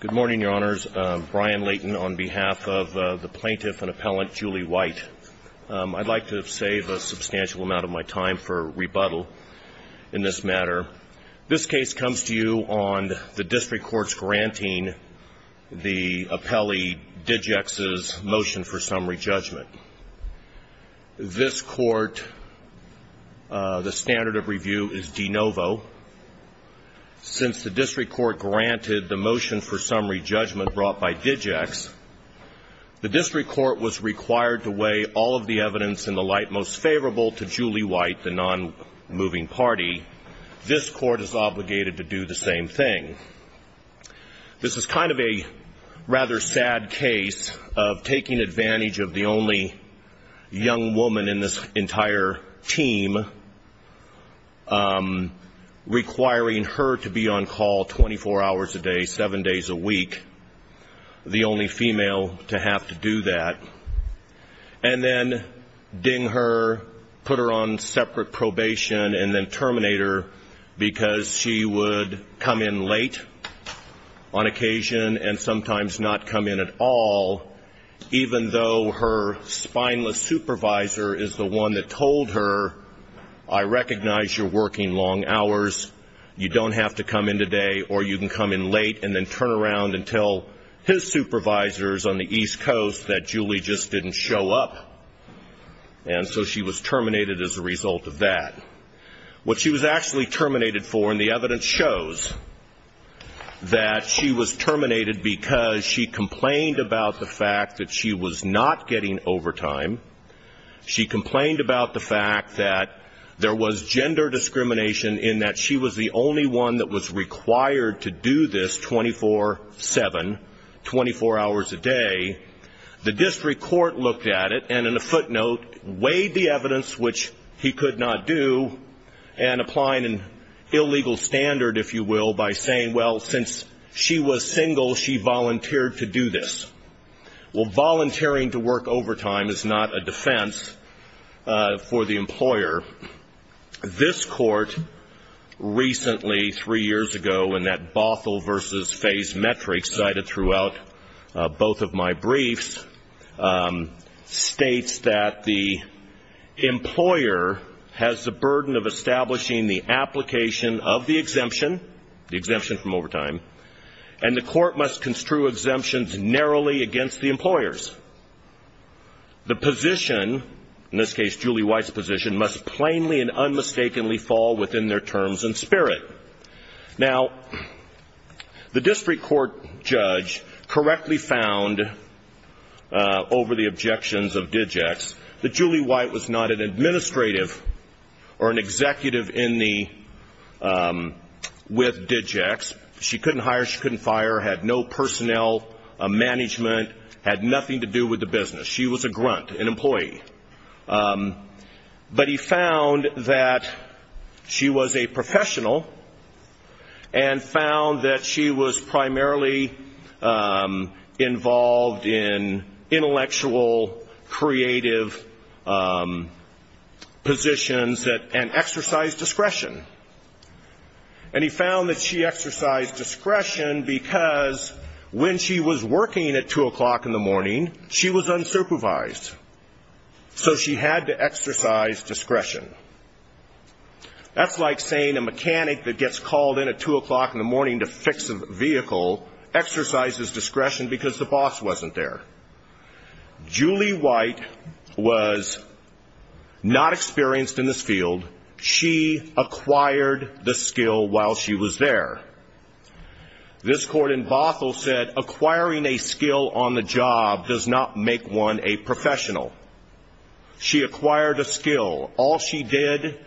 Good morning, Your Honors. Brian Layton on behalf of the plaintiff and appellant Julie White. I'd like to save a substantial amount of my time for rebuttal in this matter. This case comes to you on the district court's granting the appellee Digex's motion for summary judgment. This court, the standard of review is de novo. Since the district court granted the motion for summary judgment brought by Digex, the district court was required to weigh all of the evidence in the light most favorable to Julie White, the nonmoving party. This court is obligated to do the same thing. This is kind of a rather sad case of taking advantage of the only young woman in this entire team, requiring her to be on call 24 hours a day, seven days a week, the only female to have to do that, and then ding her, put her on separate probation, and then terminate her because she would come in late on occasion and sometimes not come in at all, even though her spineless supervisor is the one that told her, I recognize you're working long hours, you don't have to come in today, or you can come in late and then turn around and tell his supervisors on the East Coast that Julie just didn't show up, and so she was terminated as a result of that. What she was actually terminated for, and the evidence shows that she was terminated because she complained about the fact that she was not getting overtime. She complained about the fact that there was gender discrimination in that she was the only one that was required to do this 24-7, 24 hours a day. The district court looked at it and in a footnote weighed the evidence, which he could not do, and applying an illegal standard, if you will, by saying, well, since she was single, she volunteered to do this. Well, volunteering to work overtime is not a defense for the employer. This court recently, three years ago, in that Bothell versus Fays metric cited throughout both of my briefs, states that the employer has the burden of establishing the application of the exemption, the exemption from overtime, and the court must construe exemptions narrowly against the employers. The position, in this case Julie White's position, must plainly and unmistakably fall within their terms and spirit. Now, the district court judge correctly found over the objections of DigEx that Julie White was not an administrative or an executive with DigEx. She couldn't hire, she couldn't fire, had no personnel management, had nothing to do with the business. She was a grunt, an employee. But he found that she was a professional and found that she was primarily involved in intellectual, creative positions and exercised discretion. And he found that she exercised discretion because when she was working at 2 o'clock in the morning, she was unsupervised. So she had to exercise discretion. That's like saying a mechanic that gets called in at 2 o'clock in the morning to fix a vehicle exercises discretion because the boss wasn't there. Julie White was not experienced in this field. She acquired the skill while she was there. This court in Bothell said acquiring a skill on the job does not make one a professional. She acquired a skill. All she did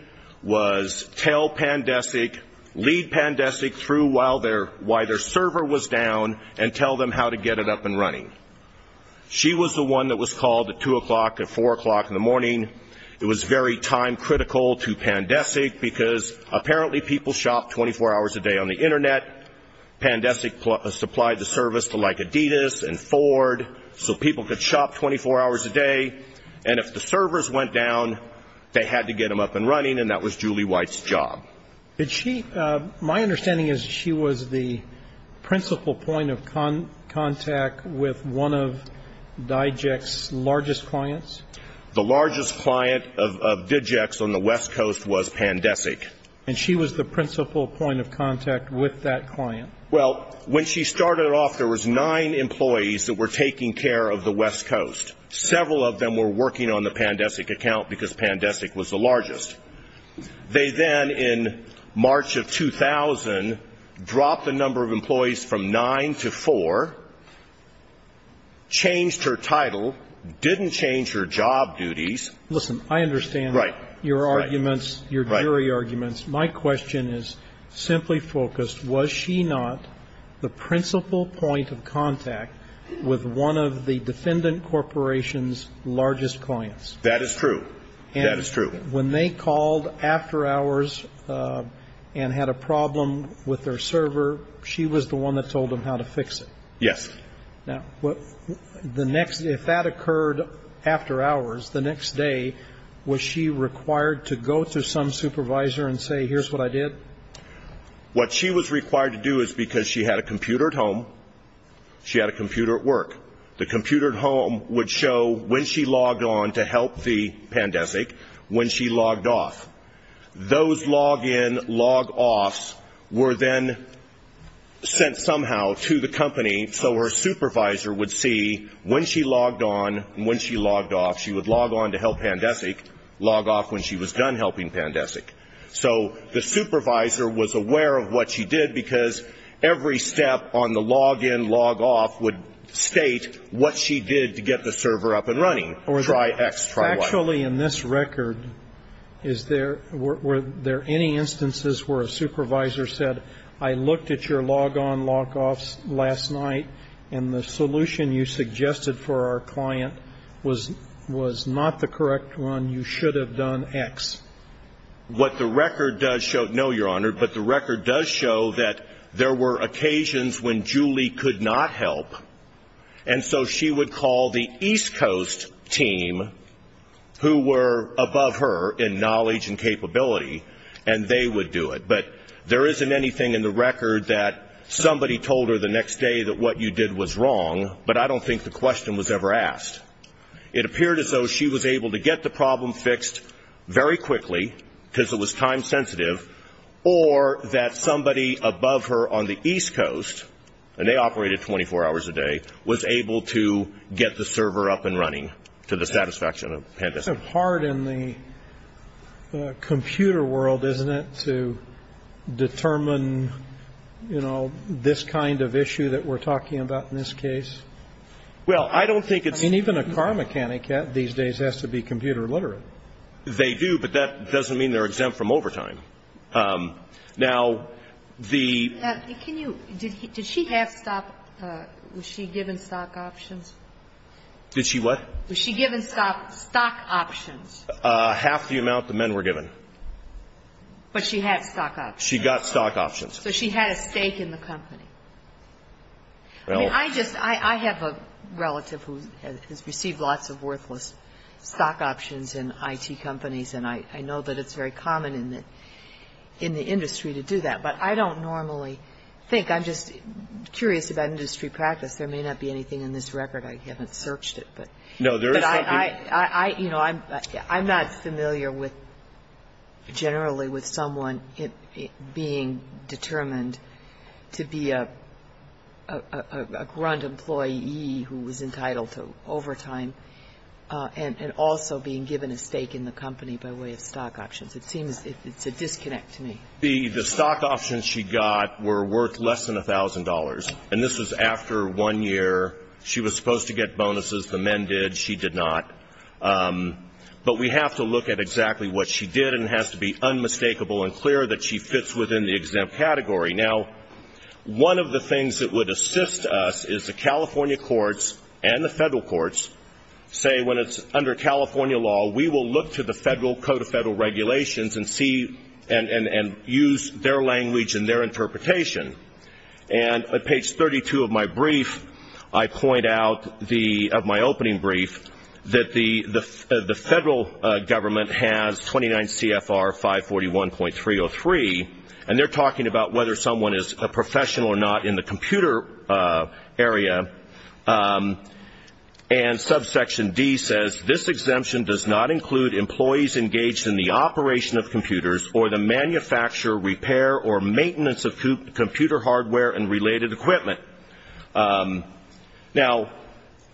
was tell Pandesic, lead Pandesic through while their server was down and tell them how to get it up and running. She was the one that was called at 2 o'clock and 4 o'clock in the morning. It was very time critical to Pandesic because apparently people shopped 24 hours a day on the Internet. Pandesic supplied the service to like Adidas and Ford so people could shop 24 hours a day. And if the servers went down, they had to get them up and running, and that was Julie White's job. Did she my understanding is she was the principal point of contact with one of DIJEC's largest clients? The largest client of DIJEC's on the West Coast was Pandesic. And she was the principal point of contact with that client? Well, when she started off, there was nine employees that were taking care of the West Coast. Several of them were working on the Pandesic account because Pandesic was the largest. They then in March of 2000 dropped the number of employees from nine to four, changed her title, didn't change her job duties. Listen, I understand your arguments, your jury arguments. My question is simply focused, was she not the principal point of contact with one of the defendant corporation's largest clients? That is true. That is true. And when they called after hours and had a problem with their server, she was the one that told them how to fix it? Yes. Now, if that occurred after hours, the next day, was she required to go to some supervisor and say, here's what I did? What she was required to do is because she had a computer at home, she had a computer at work. The computer at home would show when she logged on to help the Pandesic, when she logged off. Those log-in, log-offs were then sent somehow to the company so her supervisor would see when she logged on and when she logged off. She would log on to help Pandesic, log off when she was done helping Pandesic. So the supervisor was aware of what she did because every step on the log-in, log-off would state what she did to get the server up and running. Try X, try Y. Actually, in this record, is there, were there any instances where a supervisor said, I looked at your log-on, log-offs last night and the solution you suggested for our client was not the correct one, you should have done X? What the record does show, no, Your Honor, but the record does show that there were occasions when Julie could not help, and so she would call the East Coast team, who were above her in knowledge and capability, and they would do it. But there isn't anything in the record that somebody told her the next day that what you did was wrong, but I don't think the question was ever asked. It appeared as though she was able to get the problem fixed very quickly because it was time sensitive, or that somebody above her on the East Coast, and they operated 24 hours a day, was able to get the server up and running to the satisfaction of Pandesic. It's hard in the computer world, isn't it, to determine, you know, this kind of issue that we're talking about in this case. Well, I don't think it's... And even a car mechanic these days has to be computer literate. They do, but that doesn't mean they're exempt from overtime. Now, the... Can you, did she have stock, was she given stock options? Did she what? Was she given stock options? Half the amount the men were given. But she had stock options. She got stock options. So she had a stake in the company. I mean, I just, I have a relative who has received lots of worthless stock options in I.T. companies, and I know that it's very common in the industry to do that. But I don't normally think, I'm just curious about industry practice. There may not be anything in this record. I haven't searched it, but... No, there is something... I'm not familiar with, generally, with someone being determined to be a grunt employee who was entitled to overtime and also being given a stake in the company by way of stock options. It seems it's a disconnect to me. The stock options she got were worth less than $1,000. And this was after one year. She was supposed to get bonuses. The men did. She did not. But we have to look at exactly what she did, and it has to be unmistakable and clear that she fits within the exempt category. Now, one of the things that would assist us is the California courts and the federal courts say when it's under California law, we will look to the Federal Code of Federal Regulations and see and use their language and their interpretation. And at page 32 of my brief, I point out of my opening brief, that the federal government has 29 CFR 541.303, and they're talking about whether someone is a professional or not in the computer area. And subsection D says, this exemption does not include employees engaged in the operation of computers or the manufacture, repair, or maintenance of computer hardware and related equipment. Now,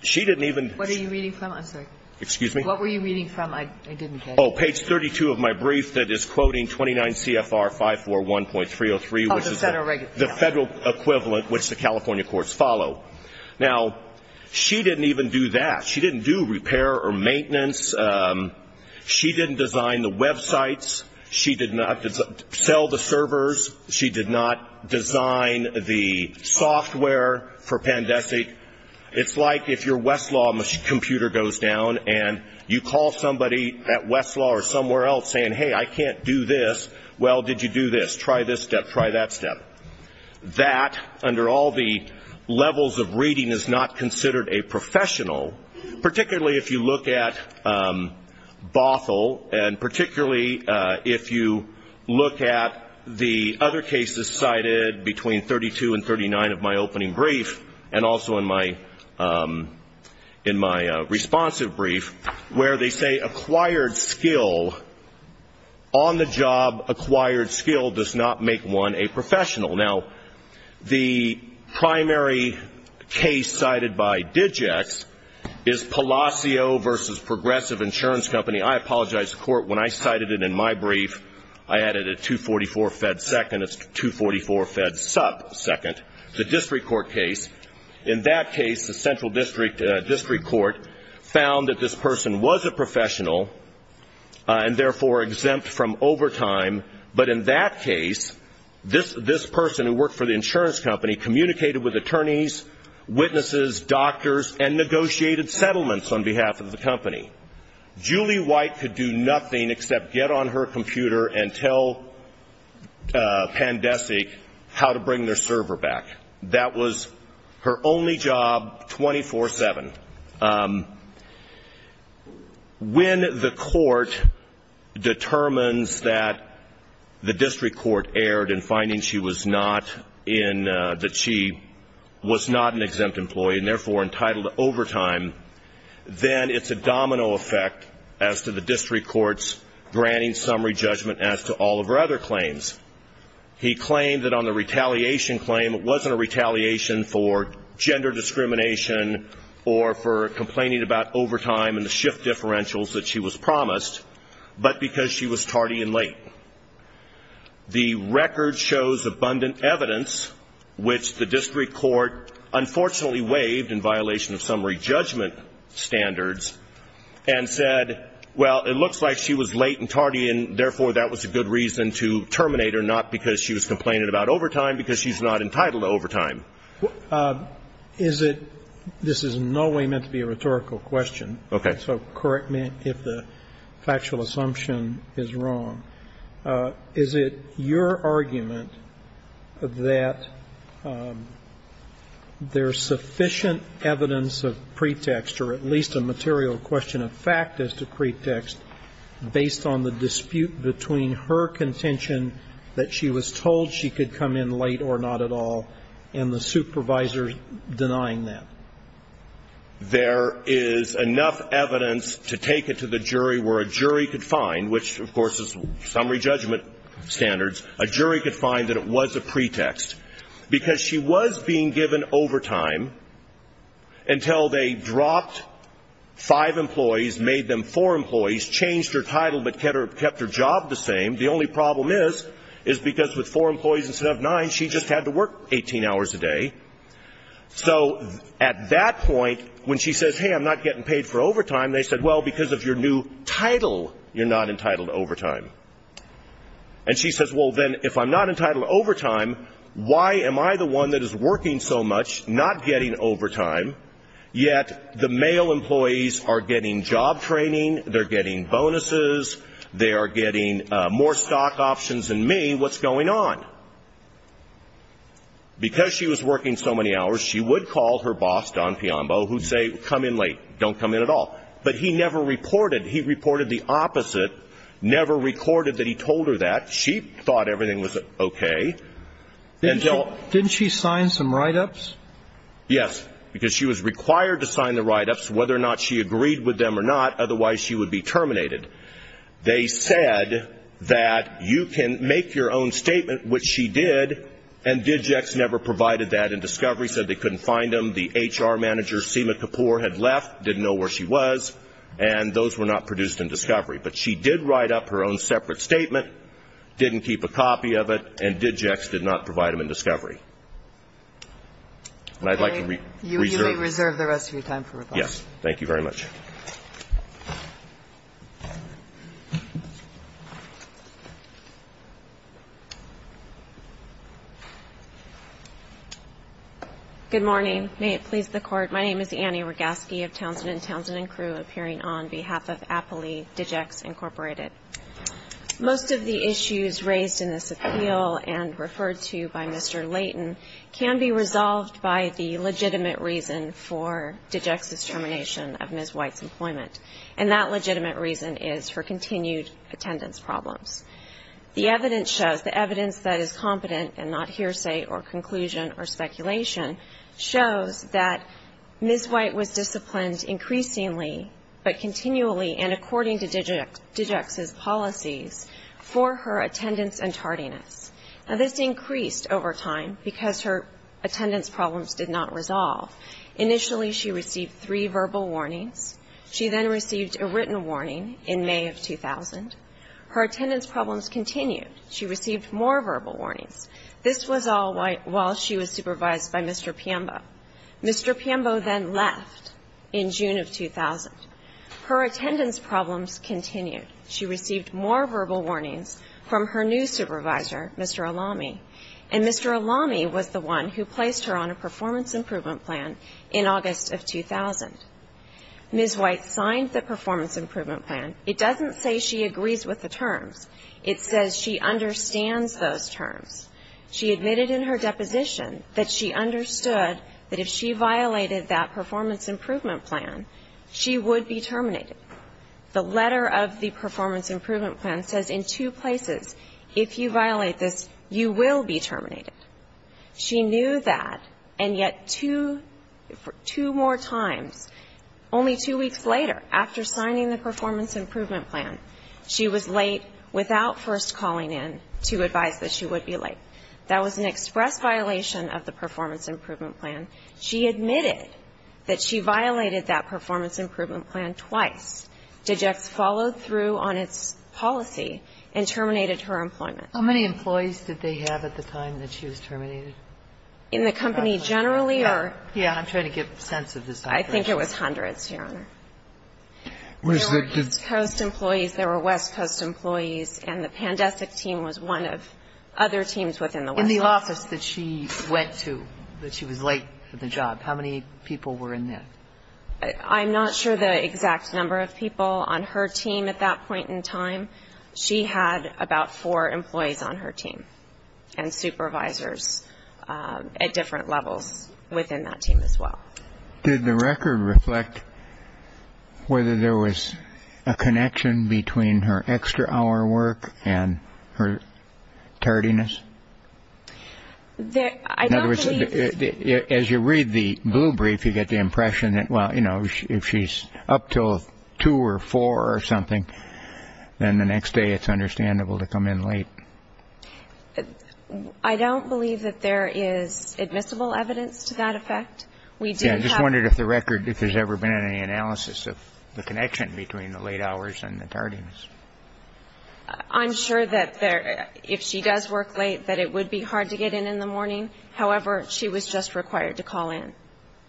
she didn't even. What are you reading from? I'm sorry. Excuse me? What were you reading from? I didn't get it. Oh, page 32 of my brief that is quoting 29 CFR 541.303, which is the federal equivalent, which the California courts follow. Now, she didn't even do that. She didn't do repair or maintenance. She didn't design the websites. She did not sell the servers. She did not design the software for Pandesic. It's like if your Westlaw computer goes down and you call somebody at Westlaw or somewhere else saying, hey, I can't do this. Well, did you do this? Try this step. Try that step. That, under all the levels of reading, is not considered a professional, particularly if you look at Bothell and particularly if you look at the other cases cited between 32 and 39 of my opening brief and also in my responsive brief where they say acquired skill, on-the-job acquired skill does not make one a professional. Now, the primary case cited by Digex is Palacio v. Progressive Insurance Company. I apologize to the Court. When I cited it in my brief, I added a 244 fed second. It's 244 fed sub second. It's a district court case. In that case, the central district court found that this person was a professional and, therefore, exempt from overtime. But in that case, this person who worked for the insurance company communicated with attorneys, witnesses, doctors, and negotiated settlements on behalf of the company. Julie White could do nothing except get on her computer and tell Pandesic how to bring their server back. That was her only job 24-7. When the court determines that the district court erred in finding she was not an exempt employee and, therefore, entitled to overtime, then it's a domino effect as to the district court's granting summary judgment as to all of her other claims. He claimed that on the retaliation claim, it wasn't a retaliation for gender discrimination or for complaining about overtime and the shift differentials that she was promised, but because she was tardy and late. The record shows abundant evidence, which the district court unfortunately waived in violation of summary judgment standards and said, well, it looks like she was late and tardy, and, therefore, that was a good reason to terminate her, not because she was complaining about overtime, because she's not entitled to overtime. Is it – this is in no way meant to be a rhetorical question. Okay. So correct me if the factual assumption is wrong. Is it your argument that there's sufficient evidence of pretext, or at least a material question of fact as to pretext, based on the dispute between her contention that she was told she could come in late or not at all and the supervisor denying that? There is enough evidence to take it to the jury where a jury could find, which, of course, is summary judgment standards, a jury could find that it was a pretext. Because she was being given overtime until they dropped five employees, made them four employees, changed her title but kept her job the same. The only problem is, is because with four employees instead of nine, she just had to work 18 hours a day. So at that point, when she says, hey, I'm not getting paid for overtime, they said, well, because of your new title, you're not entitled to overtime. And she says, well, then, if I'm not entitled to overtime, why am I the one that is working so much, not getting overtime, yet the male employees are getting job training, they're getting bonuses, they are getting more stock options than me, what's going on? Because she was working so many hours, she would call her boss, Don Piombo, who would say, come in late, don't come in at all. But he never reported. He reported the opposite, never recorded that he told her that. She thought everything was okay. Didn't she sign some write-ups? Yes, because she was required to sign the write-ups, whether or not she agreed with them or not, otherwise she would be terminated. They said that you can make your own statement, which she did, and DigEx never provided that. And Discovery said they couldn't find them. The HR manager, Seema Kapoor, had left, didn't know where she was, and those were not produced in Discovery. But she did write up her own separate statement, didn't keep a copy of it, and DigEx did not provide them in Discovery. And I'd like to reserve the rest of your time for rebuttal. Yes, thank you very much. Good morning. May it please the Court. My name is Annie Rogaski of Townsend & Townsend & Crewe, appearing on behalf of Appley DigEx, Incorporated. Most of the issues raised in this appeal and referred to by Mr. Leighton can be resolved by the legitimate reason for DigEx's termination of Ms. Whitehead. And that legitimate reason is for continued attendance problems. The evidence shows, the evidence that is competent and not hearsay or conclusion or speculation, shows that Ms. White was disciplined increasingly but continually, and according to DigEx's policies, for her attendance and tardiness. Now, this increased over time because her attendance problems did not resolve. Initially, she received three verbal warnings. She then received a written warning in May of 2000. Her attendance problems continued. She received more verbal warnings. This was all while she was supervised by Mr. Piambo. Mr. Piambo then left in June of 2000. Her attendance problems continued. She received more verbal warnings from her new supervisor, Mr. Alami, and Mr. Alami was the one who placed her on a performance improvement plan in August of 2000. Ms. White signed the performance improvement plan. It doesn't say she agrees with the terms. It says she understands those terms. She admitted in her deposition that she understood that if she violated that performance improvement plan, she would be terminated. The letter of the performance improvement plan says in two places, if you violate this, you will be terminated. She knew that, and yet two more times, only two weeks later, after signing the performance improvement plan, she was late without first calling in to advise that she would be late. That was an express violation of the performance improvement plan. She admitted that she violated that performance improvement plan twice. In the first case, she was late for the job. In the second case, she was late for the job. In the fourth case, she was late for the job. In the fifth case, she was late for the job. Ms. White did not argue that she was late. Her performance improvement plan did not say that. DigEx followed through on its policy and terminated her employment. Did the record reflect whether there was a connection between her extra-hour work and her tardiness? As you read the blue brief, you get the impression that, well, you know, if she's up till two or three hours late, she's not going to be able to get a job. I don't believe that there is admissible evidence to that effect. I just wondered if the record, if there's ever been any analysis of the connection between the late hours and the tardiness. I'm sure that if she does work late, that it would be hard to get in in the morning. However, she was just required to call in.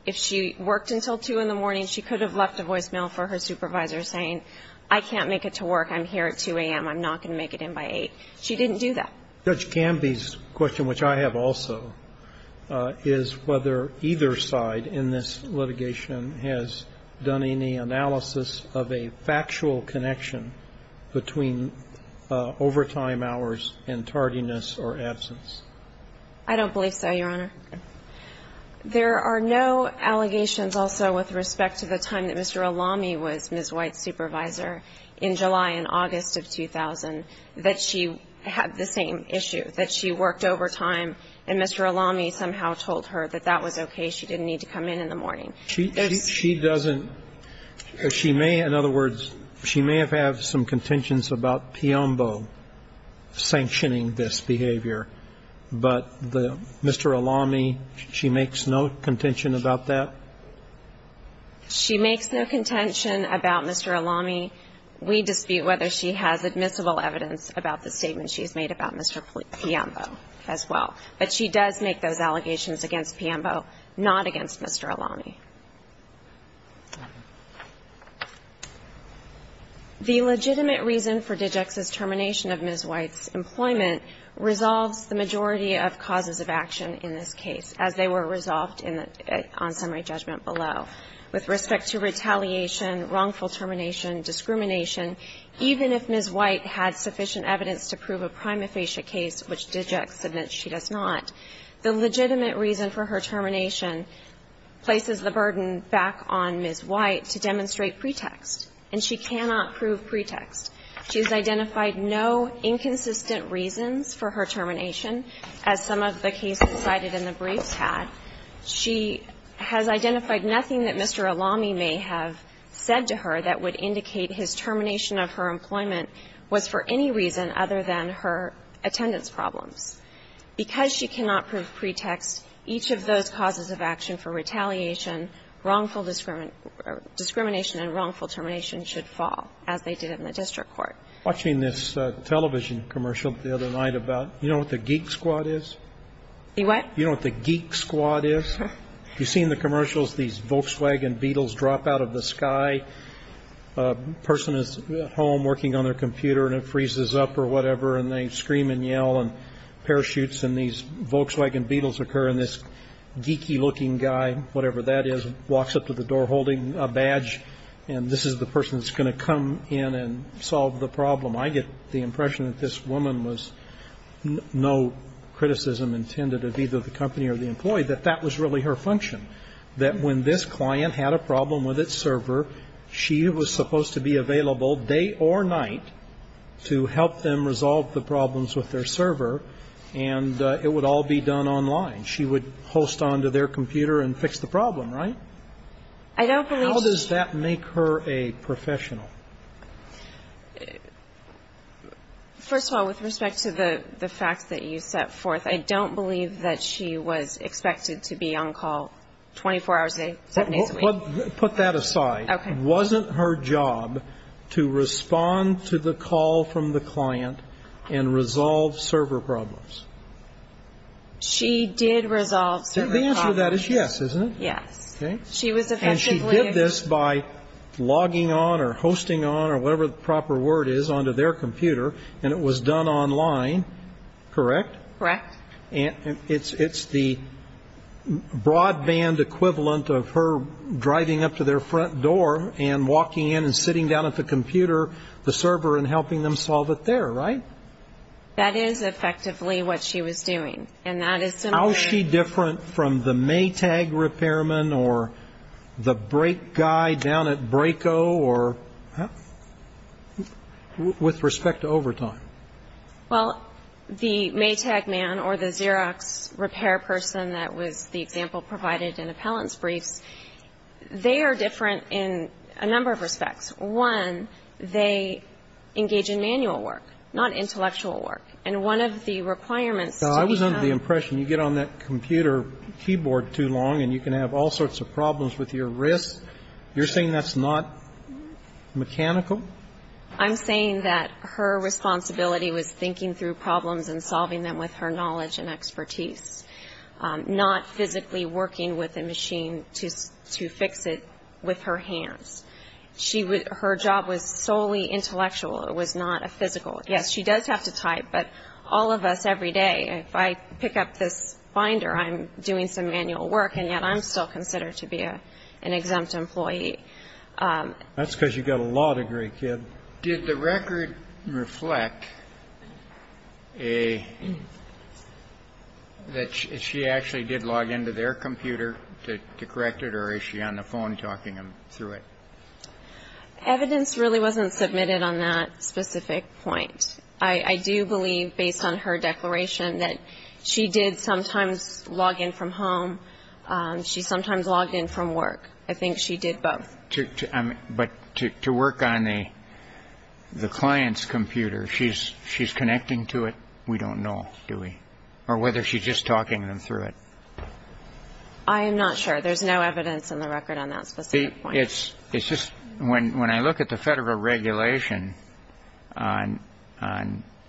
If she worked until 2 in the morning, she could have left a voicemail for her supervisor saying, I can't make it to work, I'm here at 2 a.m., I'm not going to make it in by 8. She didn't do that. Judge Gamby's question, which I have also, is whether either side in this litigation has done any analysis of a factual connection between overtime hours and tardiness or absence. I don't believe so, Your Honor. There are no allegations also with respect to the time that Mr. Alami was Ms. White's supervisor, in July and August of 2000, that she had the same issue, that she worked overtime and Mr. Alami somehow told her that that was okay, she didn't need to come in in the morning. She doesn't. She may, in other words, she may have had some contentions about Piombo sanctioning this behavior, but Mr. Alami, she makes no contention about that? She makes no contention about Mr. Alami. We dispute whether she has admissible evidence about the statement she has made about Mr. Piombo as well. But she does make those allegations against Piombo, not against Mr. Alami. The legitimate reason for Digix's termination of Ms. White's employment resolves the majority of causes of action in this case, as they were resolved on summary judgment below. With respect to retaliation, wrongful termination, discrimination, even if Ms. White had sufficient evidence to prove a prima facie case, which Digix admits she does not, the legitimate reason for her termination places the burden back on Ms. White to demonstrate pretext, and she cannot prove pretext. She has identified no inconsistent reasons for her termination, as some of the cases cited in the briefs had. She has identified nothing that Mr. Alami may have said to her that would indicate his termination of her employment was for any reason other than her attendance at the court, and she cannot prove pretext. The legitimate reason for her termination is that she has not been involved in any of these problems. Because she cannot prove pretext, each of those causes of action for retaliation, wrongful discrimination and wrongful termination should fall, as they did in the district Watching this television commercial the other night about, you know what the geek squad is? The what? You know what the geek squad is? You've seen the commercials, these Volkswagen Beetles drop out of the sky. A person is at home working on their computer, and it freezes up or whatever, and they scream and yell and parachutes, and these Volkswagen Beetles occur, and this geeky looking guy, whatever that is, walks up to the door holding a badge, and this is the problem. I get the impression that this woman was no criticism intended of either the company or the employee, that that was really her function, that when this client had a problem with its server, she was supposed to be available day or night to help them resolve the problems with their server, and it would all be done online. She would post onto their computer and fix the problem, right? I don't believe so. How does that make her a professional? First of all, with respect to the fact that you set forth, I don't believe that she was expected to be on call 24 hours a day, seven days a week. Put that aside. Okay. Wasn't her job to respond to the call from the client and resolve server problems? She did resolve server problems. The answer to that is yes, isn't it? Yes. Okay. And she did this by logging on or hosting on or whatever the proper word is onto their computer, and it was done online, correct? Correct. It's the broadband equivalent of her driving up to their front door and walking in and sitting down at the computer, the server, and helping them solve it there, right? That is effectively what she was doing, and that is similar. How is she different from the Maytag repairman or the brake guy down at Braco or with respect to overtime? Well, the Maytag man or the Xerox repair person that was the example provided in appellant's briefs, they are different in a number of respects. One, they engage in manual work, not intellectual work. And one of the requirements to be helped. I was under the impression you get on that computer keyboard too long and you can have all sorts of problems with your wrist. You're saying that's not mechanical? I'm saying that her responsibility was thinking through problems and solving them with her knowledge and expertise, not physically working with a machine to fix it with her hands. Her job was solely intellectual. It was not a physical. Yes, she does have to type, but all of us every day, if I pick up this binder, I'm doing some manual work, and yet I'm still considered to be an exempt employee. That's because you've got a law degree, kid. Did the record reflect that she actually did log into their computer to correct it, or is she on the phone talking them through it? Evidence really wasn't submitted on that specific point. I do believe, based on her declaration, that she did sometimes log in from home. She sometimes logged in from work. I think she did both. But to work on the client's computer, she's connecting to it. We don't know, do we? Or whether she's just talking them through it. I am not sure. There's no evidence in the record on that specific point. When I look at the federal regulation on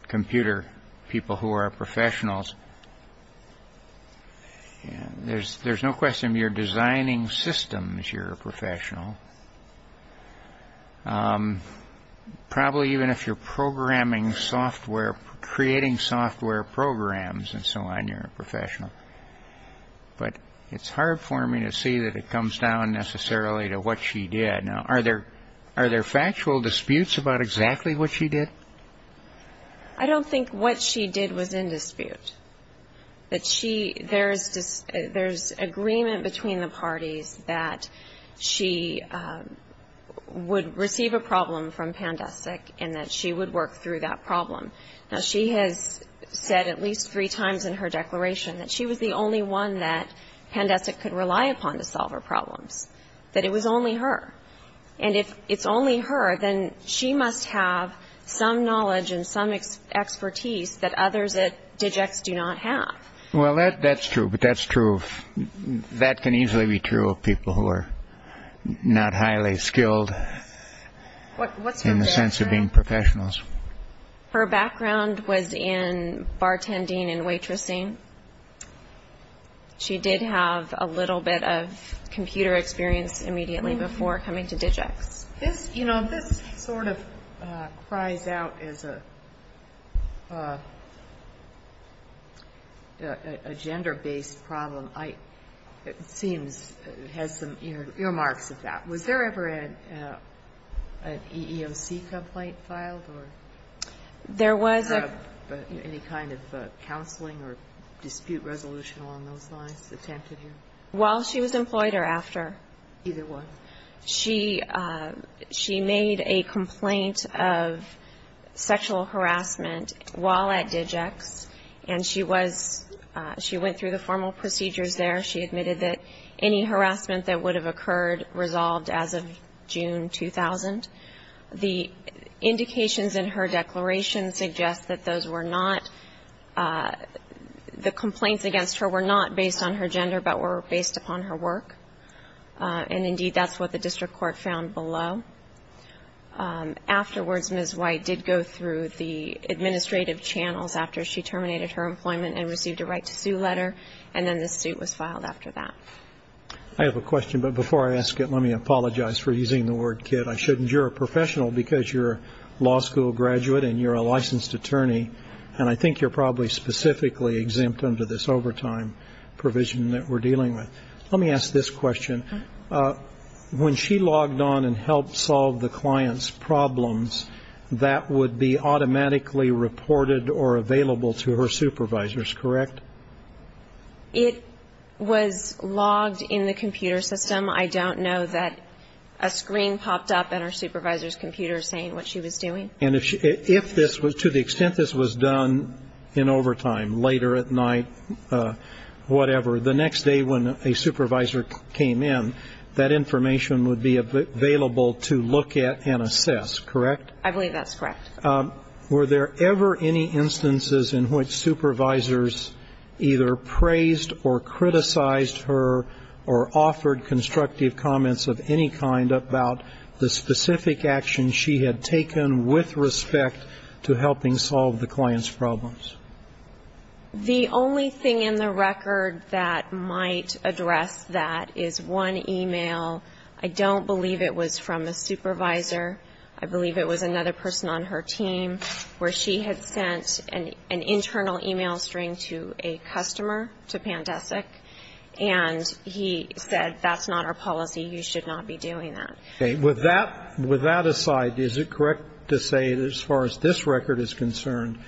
computer, people who are professionals, there's no question, if you're designing systems, you're a professional. Probably even if you're creating software programs and so on, you're a professional. But it's hard for me to see that it comes down necessarily to what she did. Are there factual disputes about exactly what she did? I don't think what she did was in dispute. There's agreement between the parties that she would receive a problem from Pandestic and that she would work through that problem. Now, she has said at least three times in her declaration that she was the only one that Pandestic could rely upon to solve her problems, that it was only her. And if it's only her, then she must have some knowledge and some expertise that others at DigX do not have. Well, that's true, but that's true. That can easily be true of people who are not highly skilled in the sense of being professionals. Her background was in bartending and waitressing. She did have a little bit of computer experience immediately before coming to DigX. This sort of cries out as a gender-based problem. It seems it has some earmarks of that. Was there ever an EEOC complaint filed or any kind of counseling or dispute resolution along those lines attempted here? While she was employed or after? Either one. She made a complaint of sexual harassment while at DigX, and she went through the formal procedures there. She admitted that any harassment that would have occurred resolved as of June 2000. The indications in her declaration suggest that those were not the complaints against her were not based on her gender but were based upon her work, and indeed that's what the district court found below. Afterwards, Ms. White did go through the administrative channels after she terminated her employment and received a right to sue letter, and then the suit was filed after that. I have a question, but before I ask it, let me apologize for using the word kid. I shouldn't. You're a professional because you're a law school graduate and you're a licensed attorney, and I think you're probably specifically exempt under this overtime provision that we're dealing with. Let me ask this question. When she logged on and helped solve the client's problems, that would be automatically reported or available to her supervisors, correct? It was logged in the computer system. I don't know that a screen popped up in her supervisor's computer saying what she was doing. And to the extent this was done in overtime, later at night, whatever, the next day when a supervisor came in, that information would be available to look at and assess, correct? I believe that's correct. Were there ever any instances in which supervisors either praised or criticized her or offered constructive comments of any kind about the specific actions she had taken with respect to helping solve the client's problems? The only thing in the record that might address that is one e-mail. I don't believe it was from a supervisor. I believe it was another person on her team where she had sent an internal e-mail string to a customer, to Pandesic, and he said that's not our policy, you should not be doing that. Okay. With that aside, is it correct to say that as far as this record is concerned,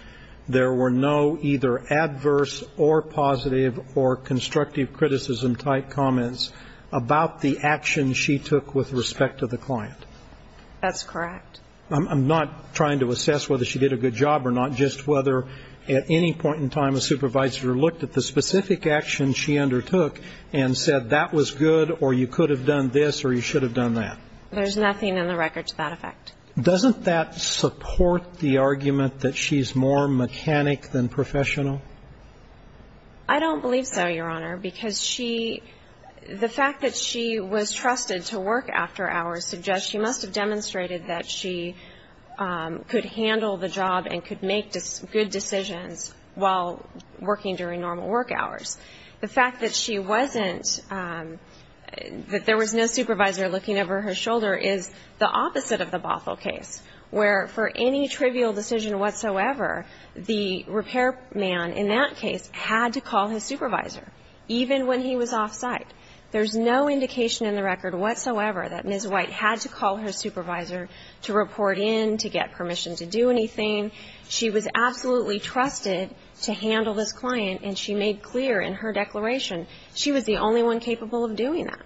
there were no either adverse or positive or constructive criticism-type comments about the actions she took with respect to the client? That's correct. I'm not trying to assess whether she did a good job or not, just whether at any point in time a supervisor looked at the specific actions she undertook and said that was good or you could have done this or you should have done that. There's nothing in the record to that effect. Doesn't that support the argument that she's more mechanic than professional? I don't believe so, Your Honor, because she, the fact that she was trusted to work after hours suggests she must have demonstrated that she could handle the job and could make good decisions while working during normal work hours. The fact that she wasn't, that there was no supervisor looking over her shoulder is the opposite of the Bothell case, where for any trivial decision whatsoever, the repairman in that case had to call his supervisor, even when he was off-site. There's no indication in the record whatsoever that Ms. White had to call her supervisor to report in, to get permission to do anything. She was absolutely trusted to handle this client, and she made clear in her declaration she was the only one capable of doing that.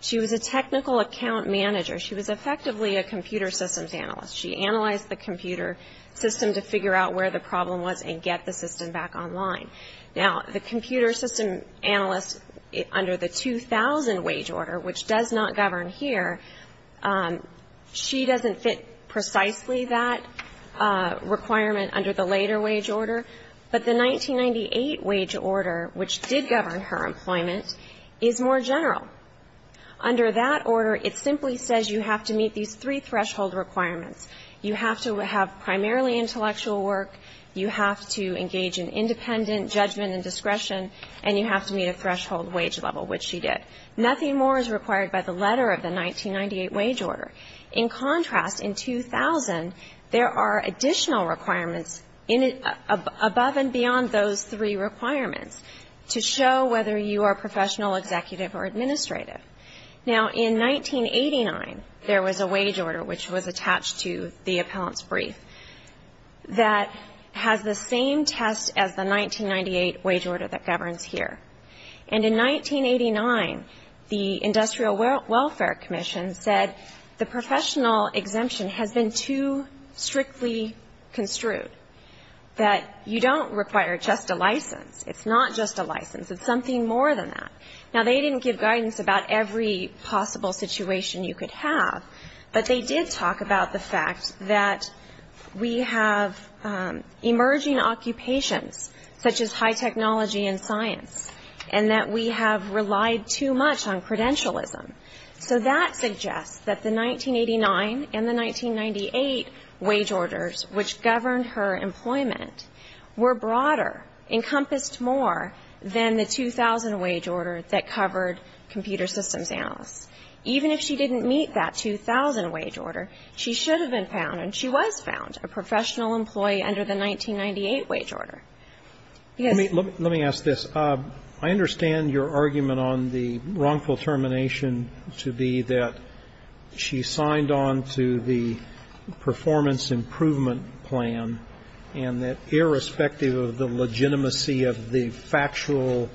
She was a technical account manager. She was effectively a computer systems analyst. She analyzed the computer system to figure out where the problem was and get the system back online. Now, the computer system analyst under the 2000 wage order, which does not govern here, she doesn't fit precisely that requirement under the later wage order. But the 1998 wage order, which did govern her employment, is more general. Under that order, it simply says you have to meet these three threshold requirements. You have to have primarily intellectual work. You have to engage in independent judgment and discretion. And you have to meet a threshold wage level, which she did. Nothing more is required by the letter of the 1998 wage order. In contrast, in 2000, there are additional requirements above and beyond those three requirements to show whether you are professional, executive, or administrative. Now, in 1989, there was a wage order, which was attached to the appellant's brief, that has the same test as the 1998 wage order that governs here. And in 1989, the Industrial Welfare Commission said the professional exemption has been too strictly construed, that you don't require just a license. It's not just a license. It's something more than that. Now, they didn't give guidance about every possible situation you could have, but they did talk about the fact that we have emerging occupations, such as high technology and science, and that we have relied too much on credentialism. So that suggests that the 1989 and the 1998 wage orders, which governed her employment, were broader, encompassed more than the 2000 wage order that covered computer systems analysts. Even if she didn't meet that 2000 wage order, she should have been found, and she was found, a professional employee under the 1998 wage order. Yes. Roberts. Let me ask this. I understand your argument on the wrongful termination to be that she signed on to the performance improvement plan, and that irrespective of the legitimacy of the factual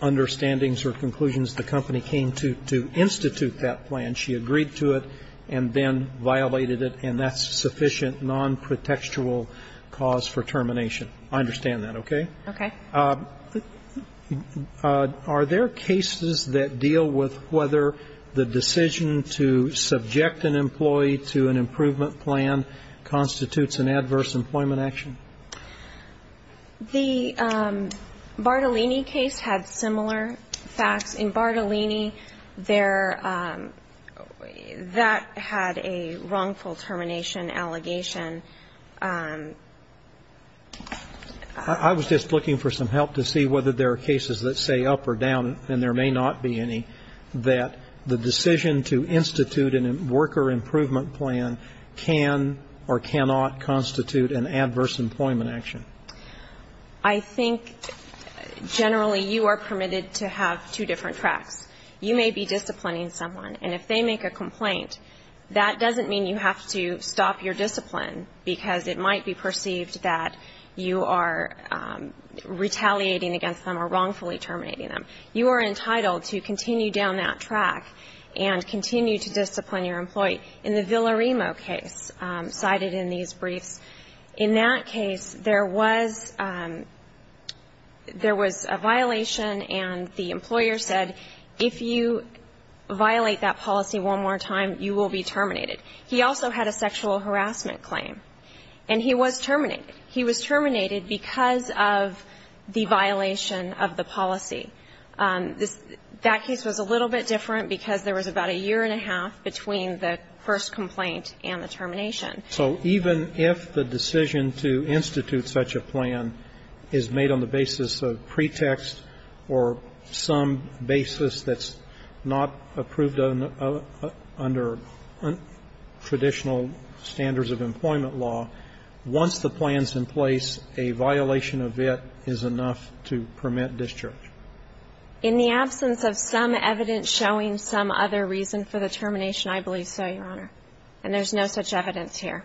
understandings or conclusions, the company came to institute that plan. She agreed to it and then violated it, and that's sufficient nonprotectual cause for termination. I understand that, okay? Okay. Are there cases that deal with whether the decision to subject an employee to an improvement plan constitutes an adverse employment action? The Bartolini case had similar facts. In Bartolini, that had a wrongful termination allegation. I was just looking for some help to see whether there are cases that say up or down, and there may not be any, that the decision to institute a worker improvement plan can or cannot constitute an adverse employment action. I think generally you are permitted to have two different tracks. You may be disciplining someone, and if they make a complaint, that doesn't mean you have to stop your discipline, because it might be perceived that you are retaliating against them or wrongfully terminating them. You are entitled to continue down that track and continue to discipline your employee. In the Villarimo case cited in these briefs, in that case there was a violation and the employer said, if you violate that policy one more time, you will be terminated. He also had a sexual harassment claim, and he was terminated. He was terminated because of the violation of the policy. That case was a little bit different, because there was about a year and a half between the first complaint and the termination. So even if the decision to institute such a plan is made on the basis of pretext or some basis that's not approved under traditional standards of employment law, once the plan is in place, a violation of it is enough to permit discharge. In the absence of some evidence showing some other reason for the termination, I believe so, Your Honor. And there's no such evidence here.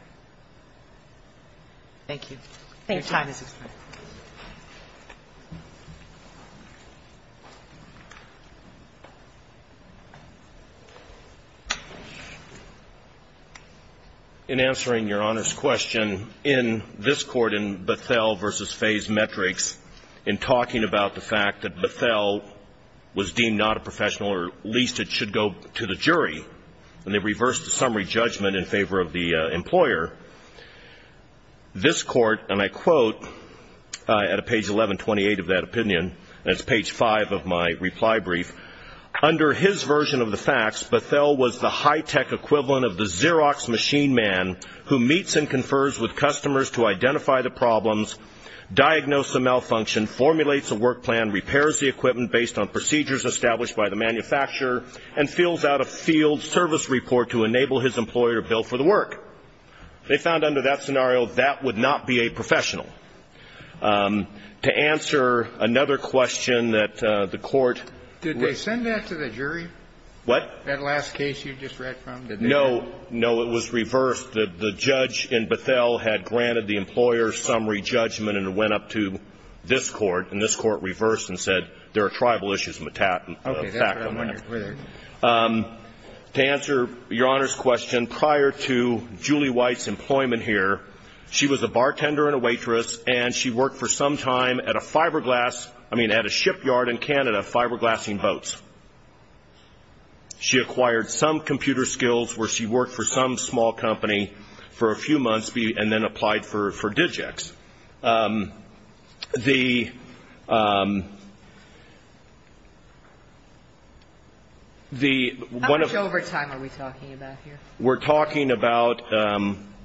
Thank you. Thank you. Your time has expired. In answering Your Honor's question, in this court, in Bethel v. Faye's metrics, in talking about the fact that Bethel was deemed not a professional, or at least it should go to the jury, and they reversed the summary judgment in favor of the employer, this court, and I quote at page 1128 of that opinion, and it's page 5 of my reply brief, under his version of the facts, Bethel was the high-tech equivalent of the Xerox machine man who meets and confers with customers to identify the problems, diagnose the malfunction, formulates a work plan, repairs the equipment based on procedures established by the manufacturer, and fills out a field service report to enable his employer to bill for the work. They found under that scenario that would not be a professional. To answer another question that the court ---- Did they send that to the jury? What? That last case you just read from? No. No, it was reversed. The judge in Bethel had granted the employer summary judgment, and it went up to this court, and this court reversed and said there are tribal issues. Okay. To answer Your Honor's question, prior to Julie White's employment here, she was a bartender and a waitress, and she worked for some time at a fiberglass ---- She acquired some computer skills where she worked for some small company for a few months and then applied for Digix. The one of the ---- How much overtime are we talking about here? We're talking about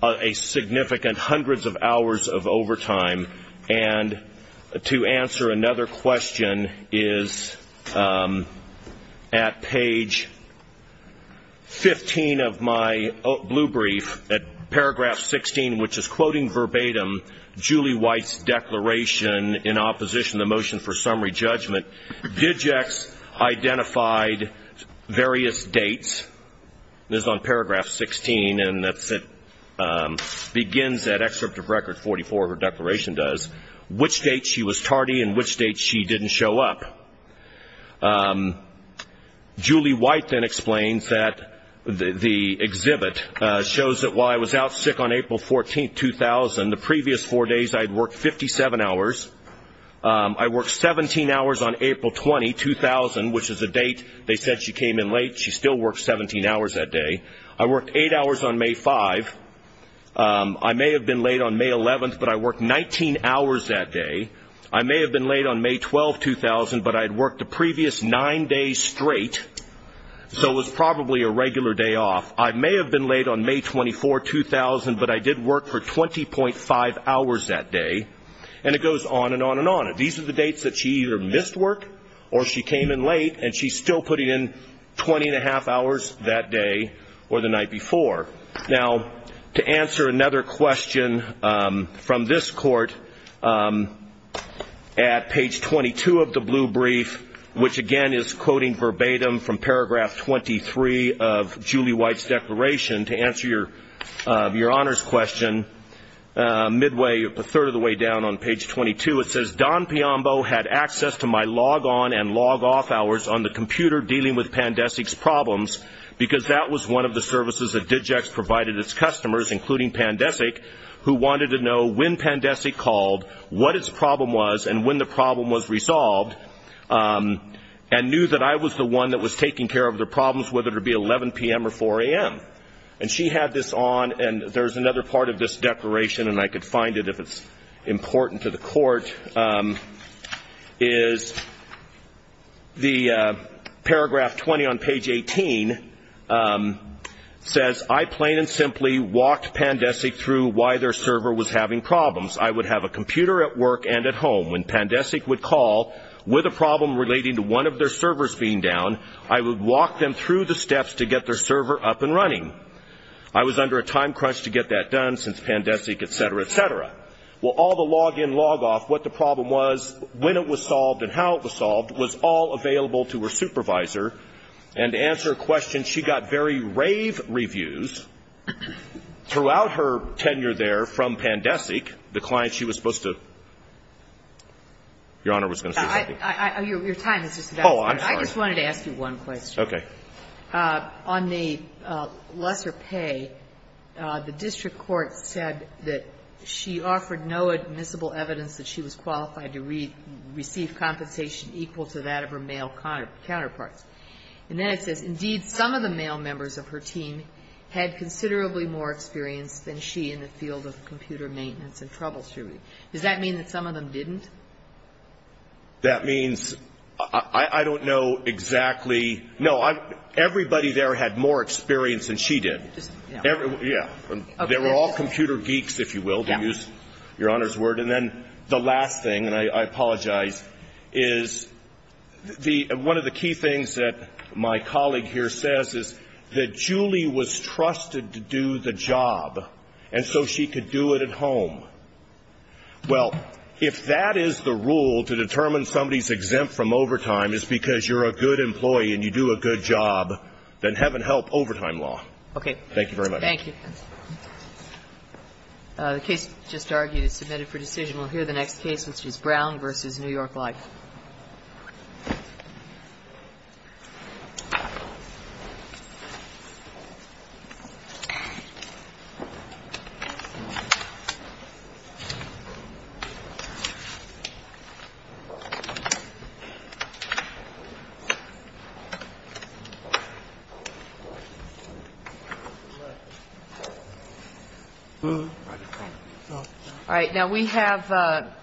a significant hundreds of hours of overtime. And to answer another question is at page 15 of my blue brief, at paragraph 16, which is quoting verbatim Julie White's declaration in opposition to the motion for summary judgment, Digix identified various dates. This is on paragraph 16, and it begins that excerpt of Record 44, her declaration does, which date she was tardy and which date she didn't show up. Julie White then explains that the exhibit shows that while I was out sick on April 14, 2000, the previous four days I had worked 57 hours. I worked 17 hours on April 20, 2000, which is a date they said she came in late. She still worked 17 hours that day. I worked eight hours on May 5. I may have been late on May 11, but I worked 19 hours that day. I may have been late on May 12, 2000, but I had worked the previous nine days straight, so it was probably a regular day off. I may have been late on May 24, 2000, but I did work for 20.5 hours that day. And it goes on and on and on. These are the dates that she either missed work or she came in late, and she's still putting in 20.5 hours that day or the night before. Now, to answer another question from this court, at page 22 of the blue brief, which, again, is quoting verbatim from paragraph 23 of Julie White's declaration, to answer your honors question, midway, a third of the way down on page 22, it says, Don Piombo had access to my log-on and log-off hours on the computer dealing with Pandesic's problems because that was one of the services that DigEx provided its customers, including Pandesic, who wanted to know when Pandesic called, what its problem was, and when the problem was resolved, and knew that I was the one that was taking care of their problems, whether it be 11 p.m. or 4 a.m. And she had this on, and there's another part of this declaration, and I could find it if it's important to the court, is the paragraph 20 on page 18 says, I plain and simply walked Pandesic through why their server was having problems. I would have a computer at work and at home. When Pandesic would call with a problem relating to one of their servers being down, I would walk them through the steps to get their server up and running. I was under a time crunch to get that done since Pandesic, et cetera, et cetera. Well, all the log-in, log-off, what the problem was, when it was solved and how it was solved, was all available to her supervisor. And to answer a question, she got very rave reviews throughout her tenure there from Pandesic, the client she was supposed to – Your Honor, I was going to say something. Your time is just about up. Oh, I'm sorry. I just wanted to ask you one question. Okay. On the lesser pay, the district court said that she offered no admissible evidence that she was qualified to receive compensation equal to that of her male counterparts. And then it says, Indeed, some of the male members of her team had considerably more experience than she in the field of computer maintenance and troubleshooting. Does that mean that some of them didn't? That means – I don't know exactly. No. Everybody there had more experience than she did. Yeah. Yeah. They were all computer geeks, if you will, to use Your Honor's word. And then the last thing, and I apologize, is the – one of the key things that my colleague here says is that Julie was trusted to do the job, and so she could do it at home. Well, if that is the rule to determine somebody's exempt from overtime is because you're a good employee and you do a good job, then heaven help overtime law. Okay. Thank you very much. Thank you. The case just argued is submitted for decision. We'll hear the next case, which is Brown v. New York Life. Thank you. All right. Now, we have –